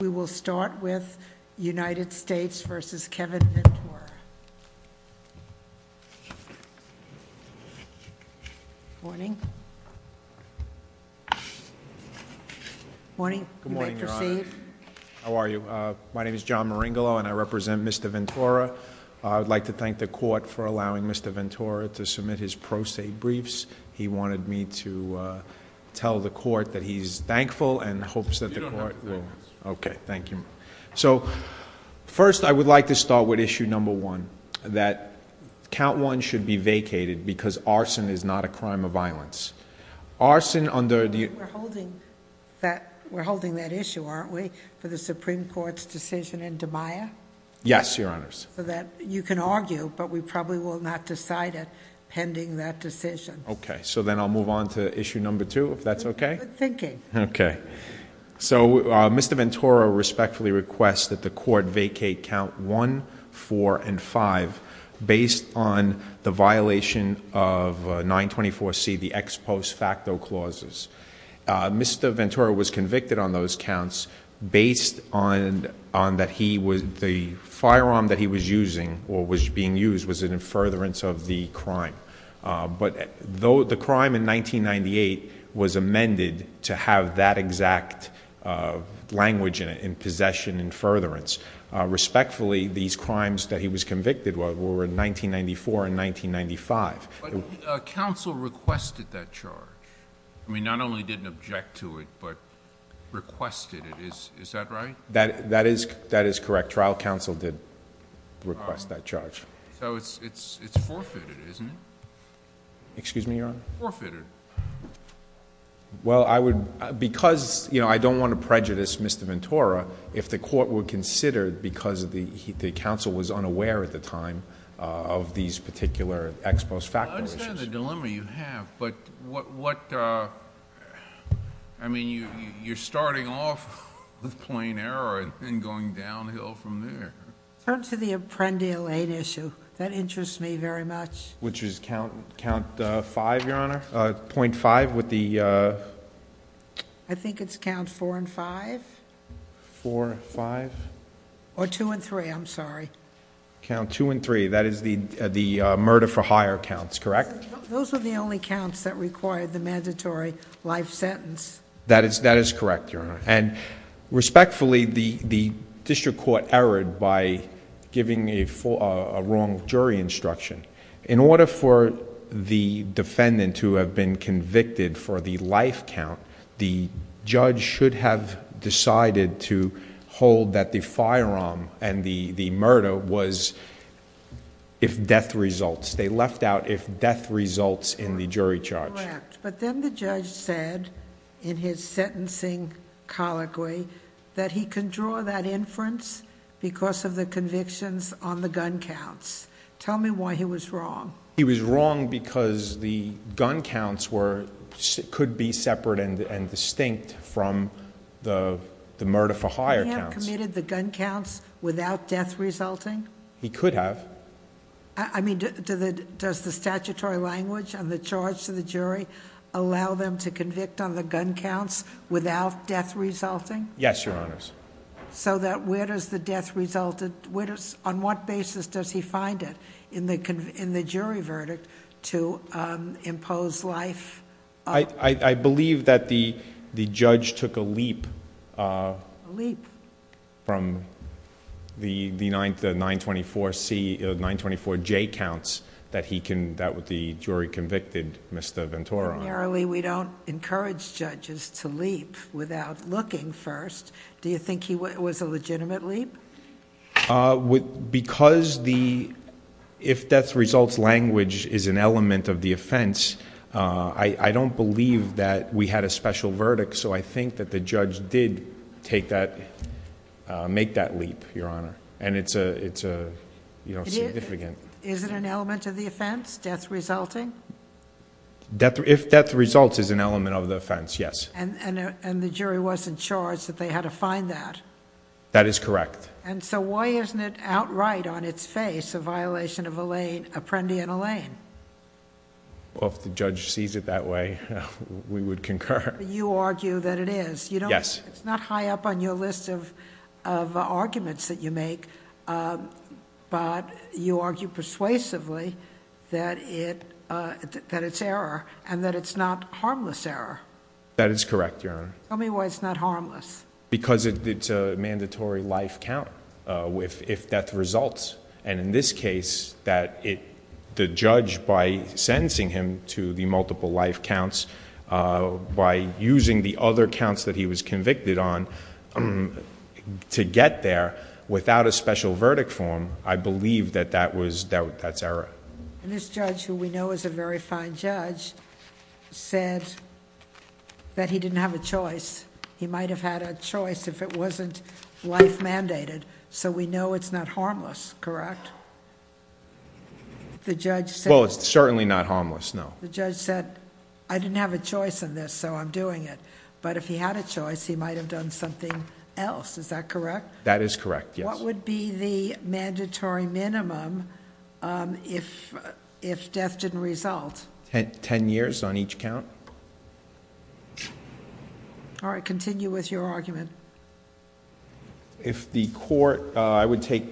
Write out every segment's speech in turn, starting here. We will start with United States v. Kevin Ventura. Morning. Morning. You may proceed. How are you? My name is John Maringolo and I represent Mr. Ventura. I would like to thank the court for allowing Mr. Ventura to submit his pro se briefs. He wanted me to tell the court that he's thankful and hopes that the court will Thank you. So first I would like to start with issue number one, that count one should be vacated because arson is not a crime of violence. We're holding that issue, aren't we, for the Supreme Court's decision in DiMaia? Yes, Your Honors. You can argue, but we probably will not decide it pending that decision. Okay, so then I'll move on to issue number two, if that's okay? Good thinking. Okay. So Mr. Ventura respectfully requests that the court vacate count one, four, and five based on the violation of 924C, the ex post facto clauses. Mr. Ventura was convicted on those counts based on that the firearm that he was using or was being used was an in furtherance of the crime. But the crime in 1998 was amended to have that exact language in it, in possession, in furtherance. Respectfully, these crimes that he was convicted were in 1994 and 1995. But counsel requested that charge. I mean, not only didn't object to it, but requested it. Is that right? That is correct. Trial counsel did request that charge. So it's forfeited, isn't it? Excuse me, Your Honor? Forfeited. Well, because I don't want to prejudice Mr. Ventura, if the court would consider because the counsel was unaware at the time of these particular ex post facto issues... I understand the dilemma you have, but what... I mean, you're starting off with plain error and going downhill from there. Turn to the Apprendia Lane issue. That interests me very much. Which is count 5, Your Honor, .5 with the... I think it's count 4 and 5. 4 and 5. Or 2 and 3, I'm sorry. Count 2 and 3. That is the murder for hire counts, correct? Those were the only counts that required the mandatory life sentence. That is correct, Your Honor. Respectfully, the district court erred by giving a wrong jury instruction. In order for the defendant to have been convicted for the life count, the judge should have decided to hold that the firearm and the murder was if death results. They left out if death results in the jury charge. That is correct, but then the judge said in his sentencing colloquy that he can draw that inference because of the convictions on the gun counts. Tell me why he was wrong. He was wrong because the gun counts could be separate and distinct from the murder for hire counts. He had committed the gun counts without death resulting? He could have. I mean, does the statutory language and the charge to the jury allow them to convict on the gun counts without death resulting? Yes, Your Honors. Where does the death result... On what basis does he find it in the jury verdict to impose life... I believe that the judge took a leap from the 924J counts that the jury convicted Mr. Ventura on. Primarily, we don't encourage judges to leap without looking first. Do you think it was a legitimate leap? Because the if death results language is an element of the offense, I don't believe that we had a special verdict, so I think that the judge did make that leap, Your Honor, and it's significant. Is it an element of the offense, death resulting? If death results is an element of the offense, yes. The jury wasn't charged that they had to find that? That is correct. Why isn't it outright on its face a violation of Apprendi and Allain? If the judge sees it that way, we would concur. You argue that it is. Yes. It's not high up on your list of arguments that you make, but you argue persuasively that it's error and that it's not harmless error. That is correct, Your Honor. Tell me why it's not harmless. Because it's a mandatory life count if death results. In this case, the judge by sentencing him to the multiple life counts, by using the other counts that he was convicted on to get there, without a special verdict form, I believe that that's error. This judge, who we know is a very fine judge, said that he didn't have a choice. He might have had a choice if it wasn't life mandated, so we know it's not harmless, correct? The judge said... Well, it's certainly not harmless, no. The judge said, I didn't have a choice in this, so I'm doing it. But if he had a choice, he might have done something else. Is that correct? That is correct, yes. What would be the mandatory minimum if death didn't result? Ten years on each count. All right. Continue with your argument. If the court... I would take...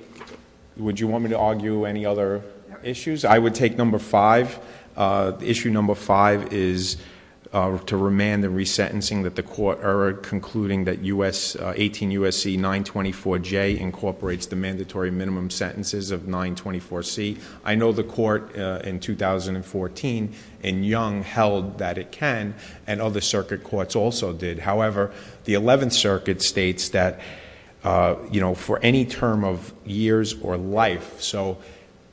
Would you want me to argue any other issues? I would take number five. Issue number five is to remand the resentencing that the court erred, concluding that 18 U.S.C. 924J incorporates the mandatory minimum sentences of 924C. I know the court in 2014, in Young, held that it can, and other circuit courts also did. However, the Eleventh Circuit states that for any term of years or life, so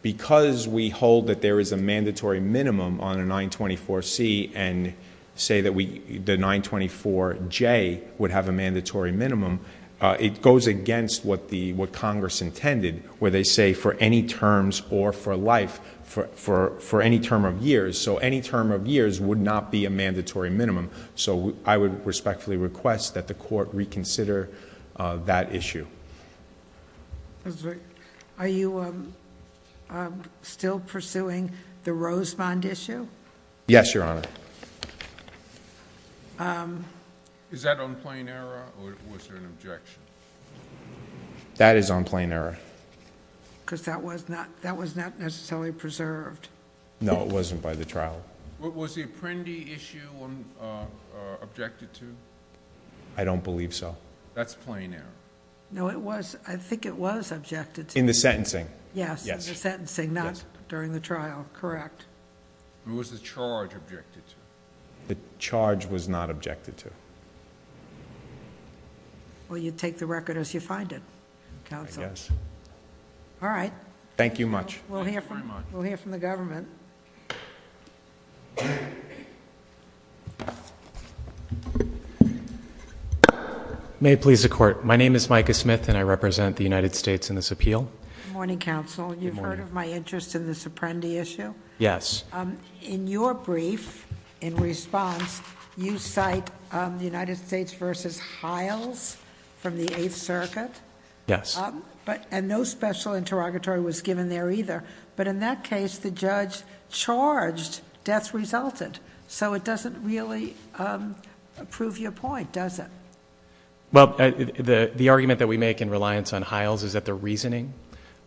because we hold that there is a mandatory minimum on a 924C and say that the 924J would have a mandatory minimum, it goes against what Congress intended where they say for any terms or for life, for any term of years. So any term of years would not be a mandatory minimum. So I would respectfully request that the court reconsider that issue. Are you still pursuing the Rosemond issue? Yes, Your Honor. Is that on plain error, or was there an objection? That is on plain error. Because that was not necessarily preserved. No, it wasn't by the trial. Was the Apprendi issue objected to? I don't believe so. That's plain error. No, it was. I think it was objected to. In the sentencing. Yes, in the sentencing, not during the trial. Correct. Who was the charge objected to? The charge was not objected to. Well, you take the record as you find it, counsel. Yes. All right. Thank you much. We'll hear from the government. May it please the court. My name is Micah Smith, and I represent the United States in this appeal. Good morning, counsel. Good morning. You've heard of my interest in this Apprendi issue? Yes. In your brief, in response, you cite the United States versus Hiles from the Eighth Circuit. Yes. No special interrogatory was given there either. In that case, the judge charged death resultant. It doesn't really prove your point, does it? The argument that we make in reliance on Hiles is that the reasoning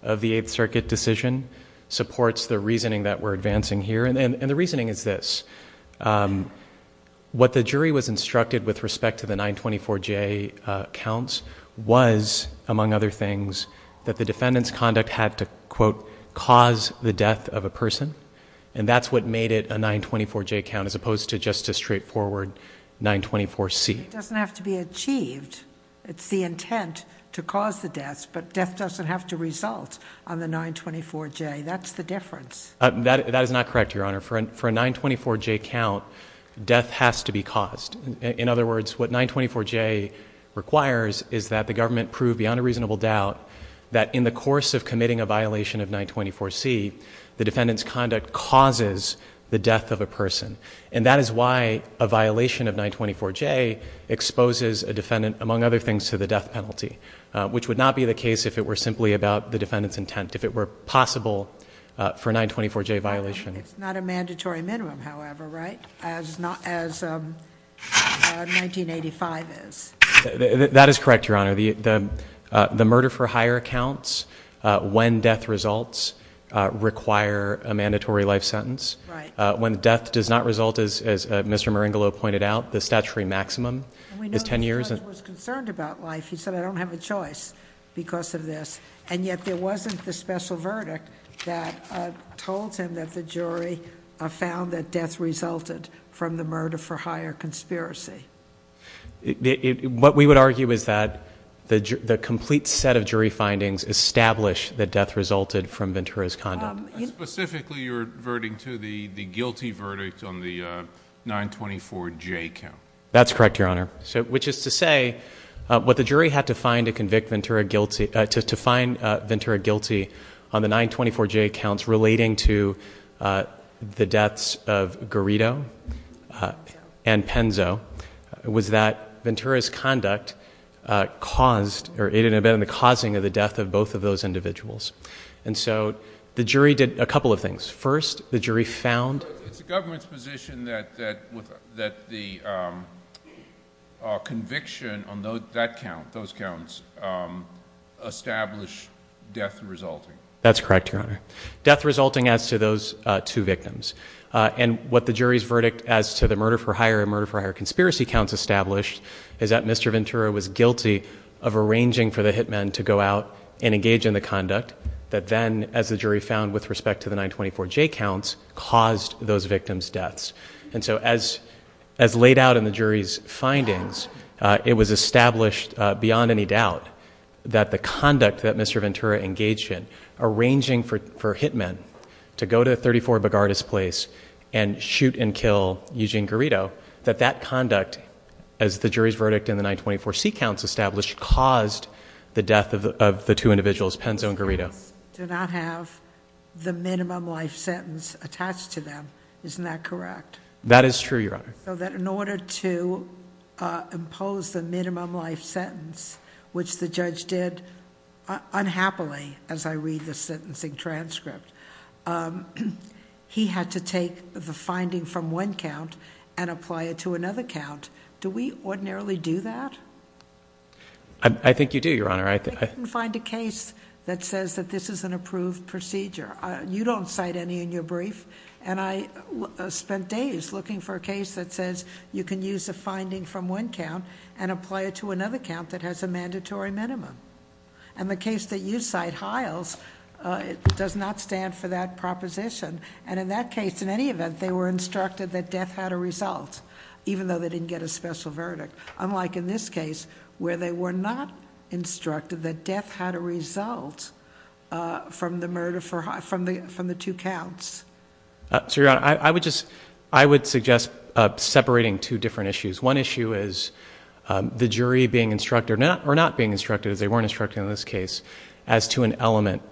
of the Eighth Circuit decision supports the reasoning that we're advancing here. The reasoning is this. What the jury was instructed with respect to the 924J counts was, among other things, that the defendant's conduct had to, quote, cause the death of a person, and that's what made it a 924J count as opposed to just a straightforward 924C. It doesn't have to be achieved. It's the intent to cause the deaths, but death doesn't have to result on the 924J. That's the difference. That is not correct, Your Honor. For a 924J count, death has to be caused. In other words, what 924J requires is that the government prove beyond a reasonable doubt that in the course of committing a violation of 924C, the defendant's conduct causes the death of a person. That is why a violation of 924J exposes a defendant, among other things, to the death penalty, which would not be the case if it were simply about the defendant's intent, if it were possible for a 924J violation. It's not a mandatory minimum, however, right, as 1985 is? That is correct, Your Honor. The murder-for-hire counts, when death results, require a mandatory life sentence. When death does not result, as Mr. Maringolo pointed out, the statutory maximum is 10 years. We know this judge was concerned about life. He said, I don't have a choice because of this, and yet there wasn't the jury found that death resulted from the murder-for-hire conspiracy. What we would argue is that the complete set of jury findings establish that death resulted from Ventura's conduct. Specifically, you're reverting to the guilty verdict on the 924J count. That's correct, Your Honor, which is to say what the jury had to find to the deaths of Garrido and Penzo was that Ventura's conduct caused, or it had been the causing of the death of both of those individuals. The jury did a couple of things. First, the jury found... It's the government's position that the conviction on that count, those counts, establish death resulting. That's correct, Your Honor. Death resulting as to those two victims. What the jury's verdict as to the murder-for-hire and murder-for-hire conspiracy counts established is that Mr. Ventura was guilty of arranging for the hit men to go out and engage in the conduct that then, as the jury found with respect to the 924J counts, caused those victims' deaths. As laid out in the jury's findings, it was established beyond any doubt that the conduct that Mr. Ventura engaged in, arranging for hit men to go to 34 Begardus Place and shoot and kill Eugene Garrido, that that conduct, as the jury's verdict in the 924C counts established, caused the death of the two individuals, Penzo and Garrido.... do not have the minimum life sentence attached to them. Isn't that correct? That is true, Your Honor. In order to impose the minimum life sentence, which the judge did unhappily, as I read the sentencing transcript, he had to take the finding from one count and apply it to another count. Do we ordinarily do that? I think you do, Your Honor. I can't find a case that says that this is an approved procedure. You don't cite any in your brief. I spent days looking for a case that says you can use a finding from one count and apply it to another count that has a mandatory minimum. The case that you cite, Hiles, does not stand for that proposition. In that case, in any event, they were instructed that death had a result, even though they didn't get a special verdict. Unlike in this case, where they were not instructed that death had a result. Your Honor, I would suggest separating two different issues. One issue is the jury being instructed, or not being instructed as they weren't instructed in this case, as to an element,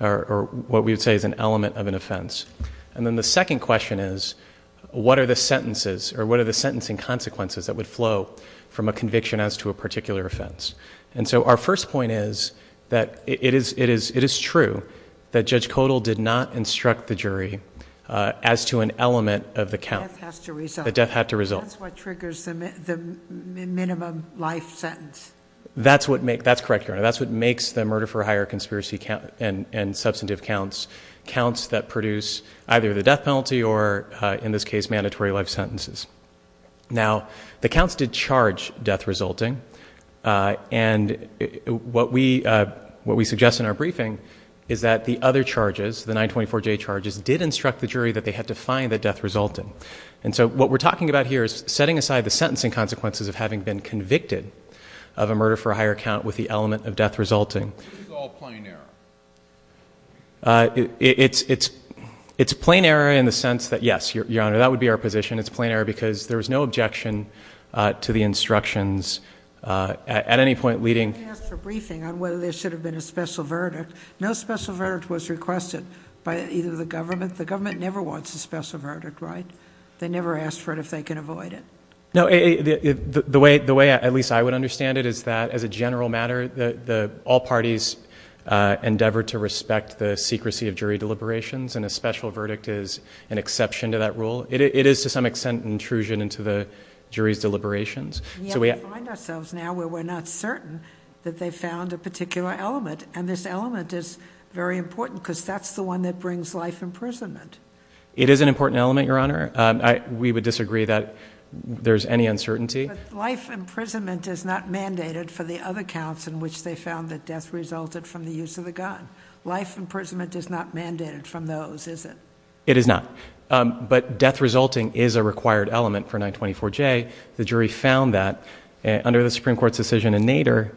or what we would say is an element of an offense. Then the second question is, what are the sentences or what are the sentencing consequences that would flow from a conviction as to a particular offense? Our first point is that it is true that Judge Kodal did not instruct the jury as to an element of the count. The death has to result. The death had to result. That's what triggers the minimum life sentence. That's correct, Your Honor. That's what makes the murder for hire conspiracy and substantive counts, counts that produce either the death penalty or, in this case, mandatory life sentences. Now, the counts did charge death resulting. What we suggest in our briefing is that the other charges, the 924J charges, did instruct the jury that they had to find the death resulting. What we're talking about here is setting aside the sentencing consequences of having been convicted of a murder for hire count with the element of death resulting. It's all plain error. It's plain error in the sense that, yes, Your Honor, that would be our position. It's plain error because there was no objection to the instructions at any point leading... We asked for briefing on whether there should have been a special verdict. No special verdict was requested by either the government. The government never wants a special verdict, right? They never ask for it if they can avoid it. No. The way, at least I would understand it, is that, as a general matter, all parties endeavor to respect the secrecy of jury deliberations, and a special verdict is an exception to that rule. It is, to some extent, an intrusion into the jury's deliberations. We find ourselves now where we're not certain that they found a particular element, and this element is very important because that's the one that brings life imprisonment. It is an important element, Your Honor. We would disagree that there's any uncertainty. Life imprisonment is not mandated for the other counts in which they found that death resulted from the use of the gun. Life imprisonment is not mandated from those, is it? It is not, but death resulting is a required element for 924J. The jury found that under the Supreme Court's decision in Nader,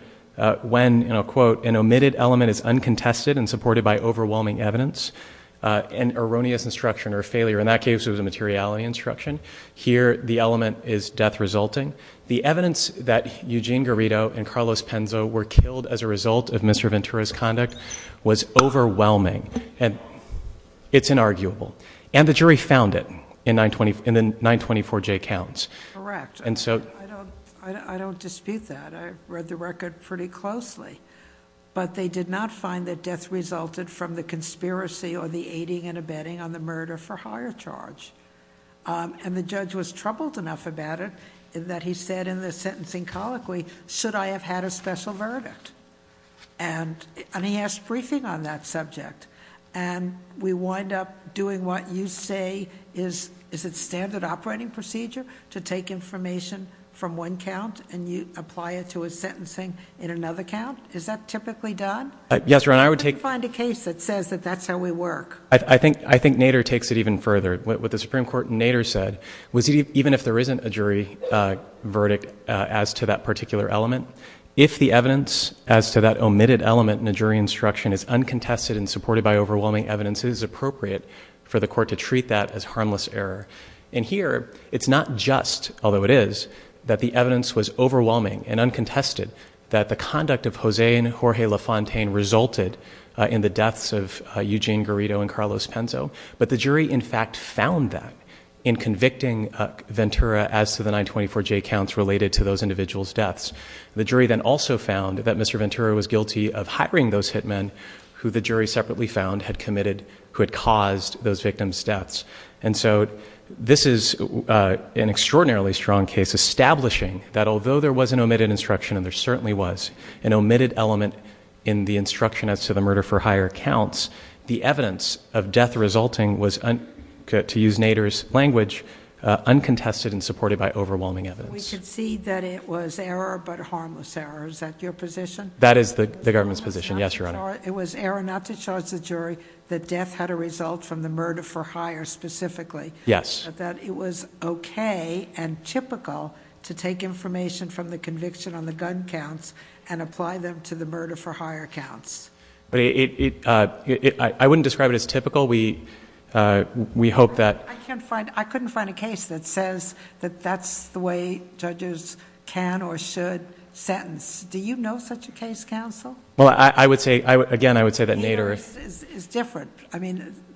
when, and I'll quote, an omitted element is uncontested and supported by overwhelming evidence, an erroneous instruction or failure, and that case was a materiality instruction. Here, the element is death resulting. The evidence that Eugene Garrido and Carlos Penzo were killed as a result of Mr. Ventura's conduct was overwhelming, and it's inarguable, and the jury found it in the 924J counts. Correct. I don't dispute that. I read the record pretty closely, but they did not find that death resulted from the conspiracy or the aiding and abetting on the murder for higher charge. The judge was troubled enough about it that he said in the sentencing colloquy, should I have had a special verdict? He asked briefing on that subject, and we wind up doing what you say is a standard operating procedure to take information from one count and you apply it to a sentencing in another count. Is that typically done? Yes, Your Honor, I would take... How do you find a case that says that that's how we work? I think Nader takes it even further. What the Supreme Court in Nader said was even if there isn't a jury verdict as to that particular element, if the evidence as to that omitted element in a jury instruction is uncontested and supported by overwhelming evidence, it is appropriate for the court to treat that as harmless error. Here, it's not just, although it is, that the evidence was overwhelming and uncontested that the conduct of Jose and Jorge LaFontaine resulted in the deaths of Eugene Garrido and Carlos Penzo, but the jury in fact found that in convicting Ventura as to the 924J counts related to those individuals' deaths. The jury then also found that Mr. Ventura was guilty of hiring those hitmen who the jury separately found had committed, who had caused those victims' deaths. And so this is an extraordinarily strong case establishing that although there was an omitted instruction, and there certainly was an omitted element in the instruction as to the murder for hire counts, the evidence of death resulting was, to use Nader's language, uncontested and supported by overwhelming evidence. We concede that it was error but harmless error. Is that your position? That is the government's position, yes, Your Honor. It was error not to charge the jury that death had a result from the murder specifically. Yes. That it was okay and typical to take information from the conviction on the gun counts and apply them to the murder for hire counts. I wouldn't describe it as typical. We hope that... I couldn't find a case that says that that's the way judges can or should sentence. Do you know such a case, counsel? Again, I would say that Nader... It's different.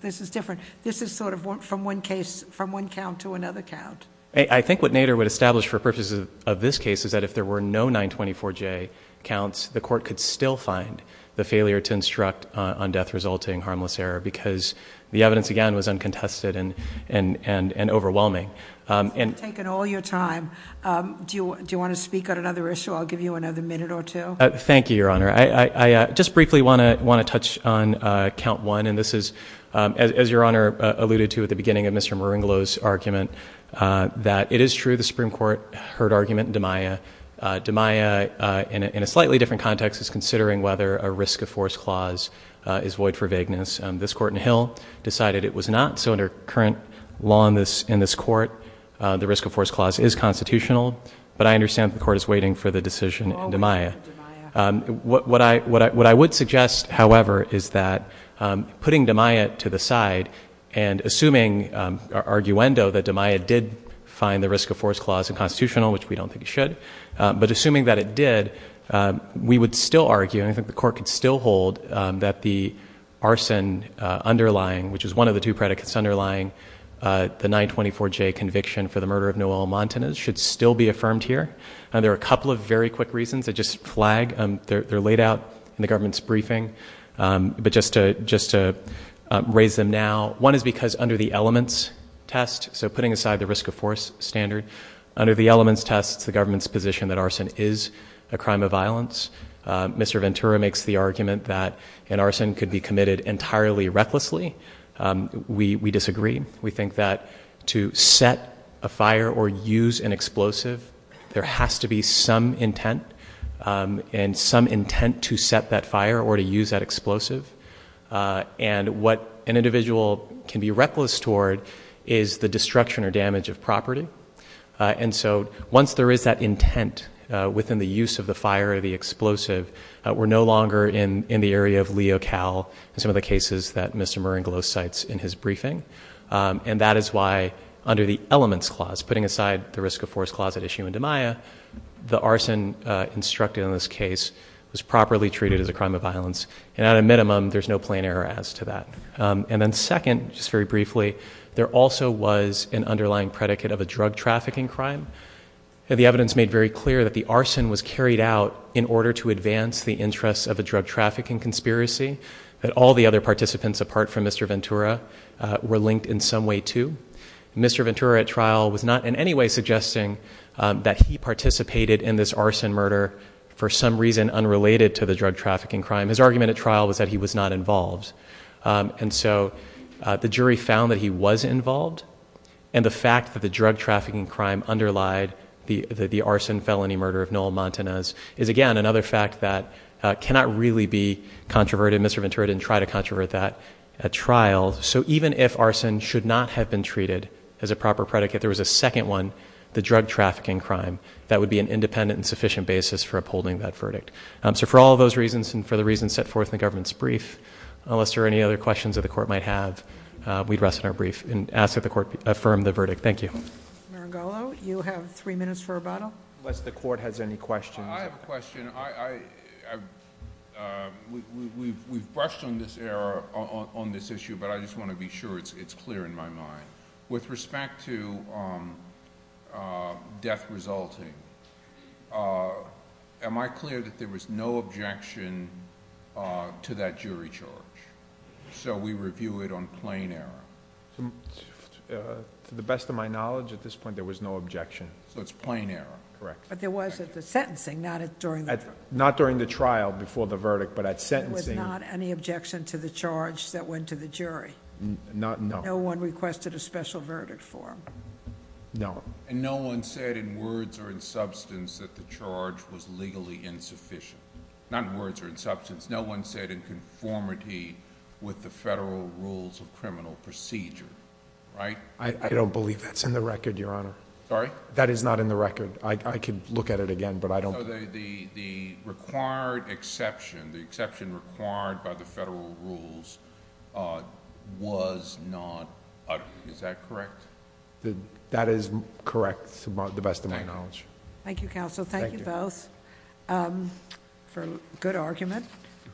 This is different. This is sort of from one case, from one count to another count. I think what Nader would establish for purposes of this case is that if there were no 924J counts, the court could still find the failure to instruct on death resulting harmless error because the evidence, again, was uncontested and overwhelming. You've taken all your time. Do you want to speak on another issue? I'll give you another minute or two. Thank you, Your Honor. I just briefly want to touch on count one. This is, as Your Honor alluded to at the beginning of Mr. Maringolo's argument, that it is true. The Supreme Court heard argument in DiMaia. DiMaia, in a slightly different context, is considering whether a risk of force clause is void for vagueness. This court in Hill decided it was not, so under current law in this court the risk of force clause is constitutional, but I understand the court is waiting for the decision in DiMaia. What I would suggest, however, is that putting DiMaia to the side and assuming our arguendo that DiMaia did find the risk of force clause is constitutional, which we don't think it should, but assuming that it did, we would still argue, and I think the court could still hold, that the arson underlying, which is one of the two predicates underlying the 924J conviction for the murder of Noel Montanez, should still be affirmed here. There are a couple of very quick reasons that just flag. They're laid out in the government's briefing, but just to raise them now. One is because under the elements test, so putting aside the risk of force standard, under the elements test the government's position that arson is a crime of violence. Mr. Ventura makes the argument that an arson could be committed entirely recklessly. We disagree. We think that to set a fire or use an explosive, there has to be some intent and some intent to set that fire or to use that explosive. And what an individual can be reckless toward is the destruction or damage of property. And so once there is that intent within the use of the fire or the explosive, we're no longer in the area of Leo Cal and some of the cases that Mr. Ventura and that is why under the elements clause, putting aside the risk of force closet issue into Maya, the arson instructed in this case was properly treated as a crime of violence. And at a minimum, there's no plain error as to that. And then second, just very briefly, there also was an underlying predicate of a drug trafficking crime. And the evidence made very clear that the arson was carried out in order to advance the interests of a drug trafficking conspiracy, that all the other participants apart from Mr. Ventura were linked in some way to Mr. Ventura at trial was not in any way suggesting that he participated in this arson murder for some reason, unrelated to the drug trafficking crime. His argument at trial was that he was not involved. And so the jury found that he was involved. And the fact that the drug trafficking crime underlied the, the arson felony murder of Noel Montanez is again, another fact that cannot really be controverted. Mr. Ventura didn't try to controvert that at trial. So even if arson should not have been treated as a proper predicate, there was a second one, the drug trafficking crime, that would be an independent and sufficient basis for upholding that verdict. So for all of those reasons, and for the reasons set forth in the government's brief, unless there are any other questions that the court might have, we'd rest in our brief and ask that the court affirm the verdict. Thank you. You have three minutes for a bottle. Unless the court has any questions. I have a question. I, I, uh, we, we, we've, we've brushed on this error on this issue, but I just want to be sure it's, it's clear in my mind with respect to, um, uh, death resulting, uh, am I clear that there was no objection, uh, to that jury charge? So we review it on plain error. To the best of my knowledge at this point, there was no objection. So it's plain error. Correct. But there was at the sentencing, not during the trial. Not during the trial before the verdict, but at sentencing. There was not any objection to the charge that went to the jury. Not, no. No one requested a special verdict for him. No. And no one said in words or in substance that the charge was legally insufficient. Not in words or in substance. No one said in conformity with the federal rules of criminal procedure. Right? I don't believe that's in the record, Your Honor. Sorry? That is not in the record. I could look at it again, but I don't. The, the, the required exception, the exception required by the federal rules, uh, was not. Is that correct? That is correct. To the best of my knowledge. Thank you, counsel. Thank you both. Um, for good argument.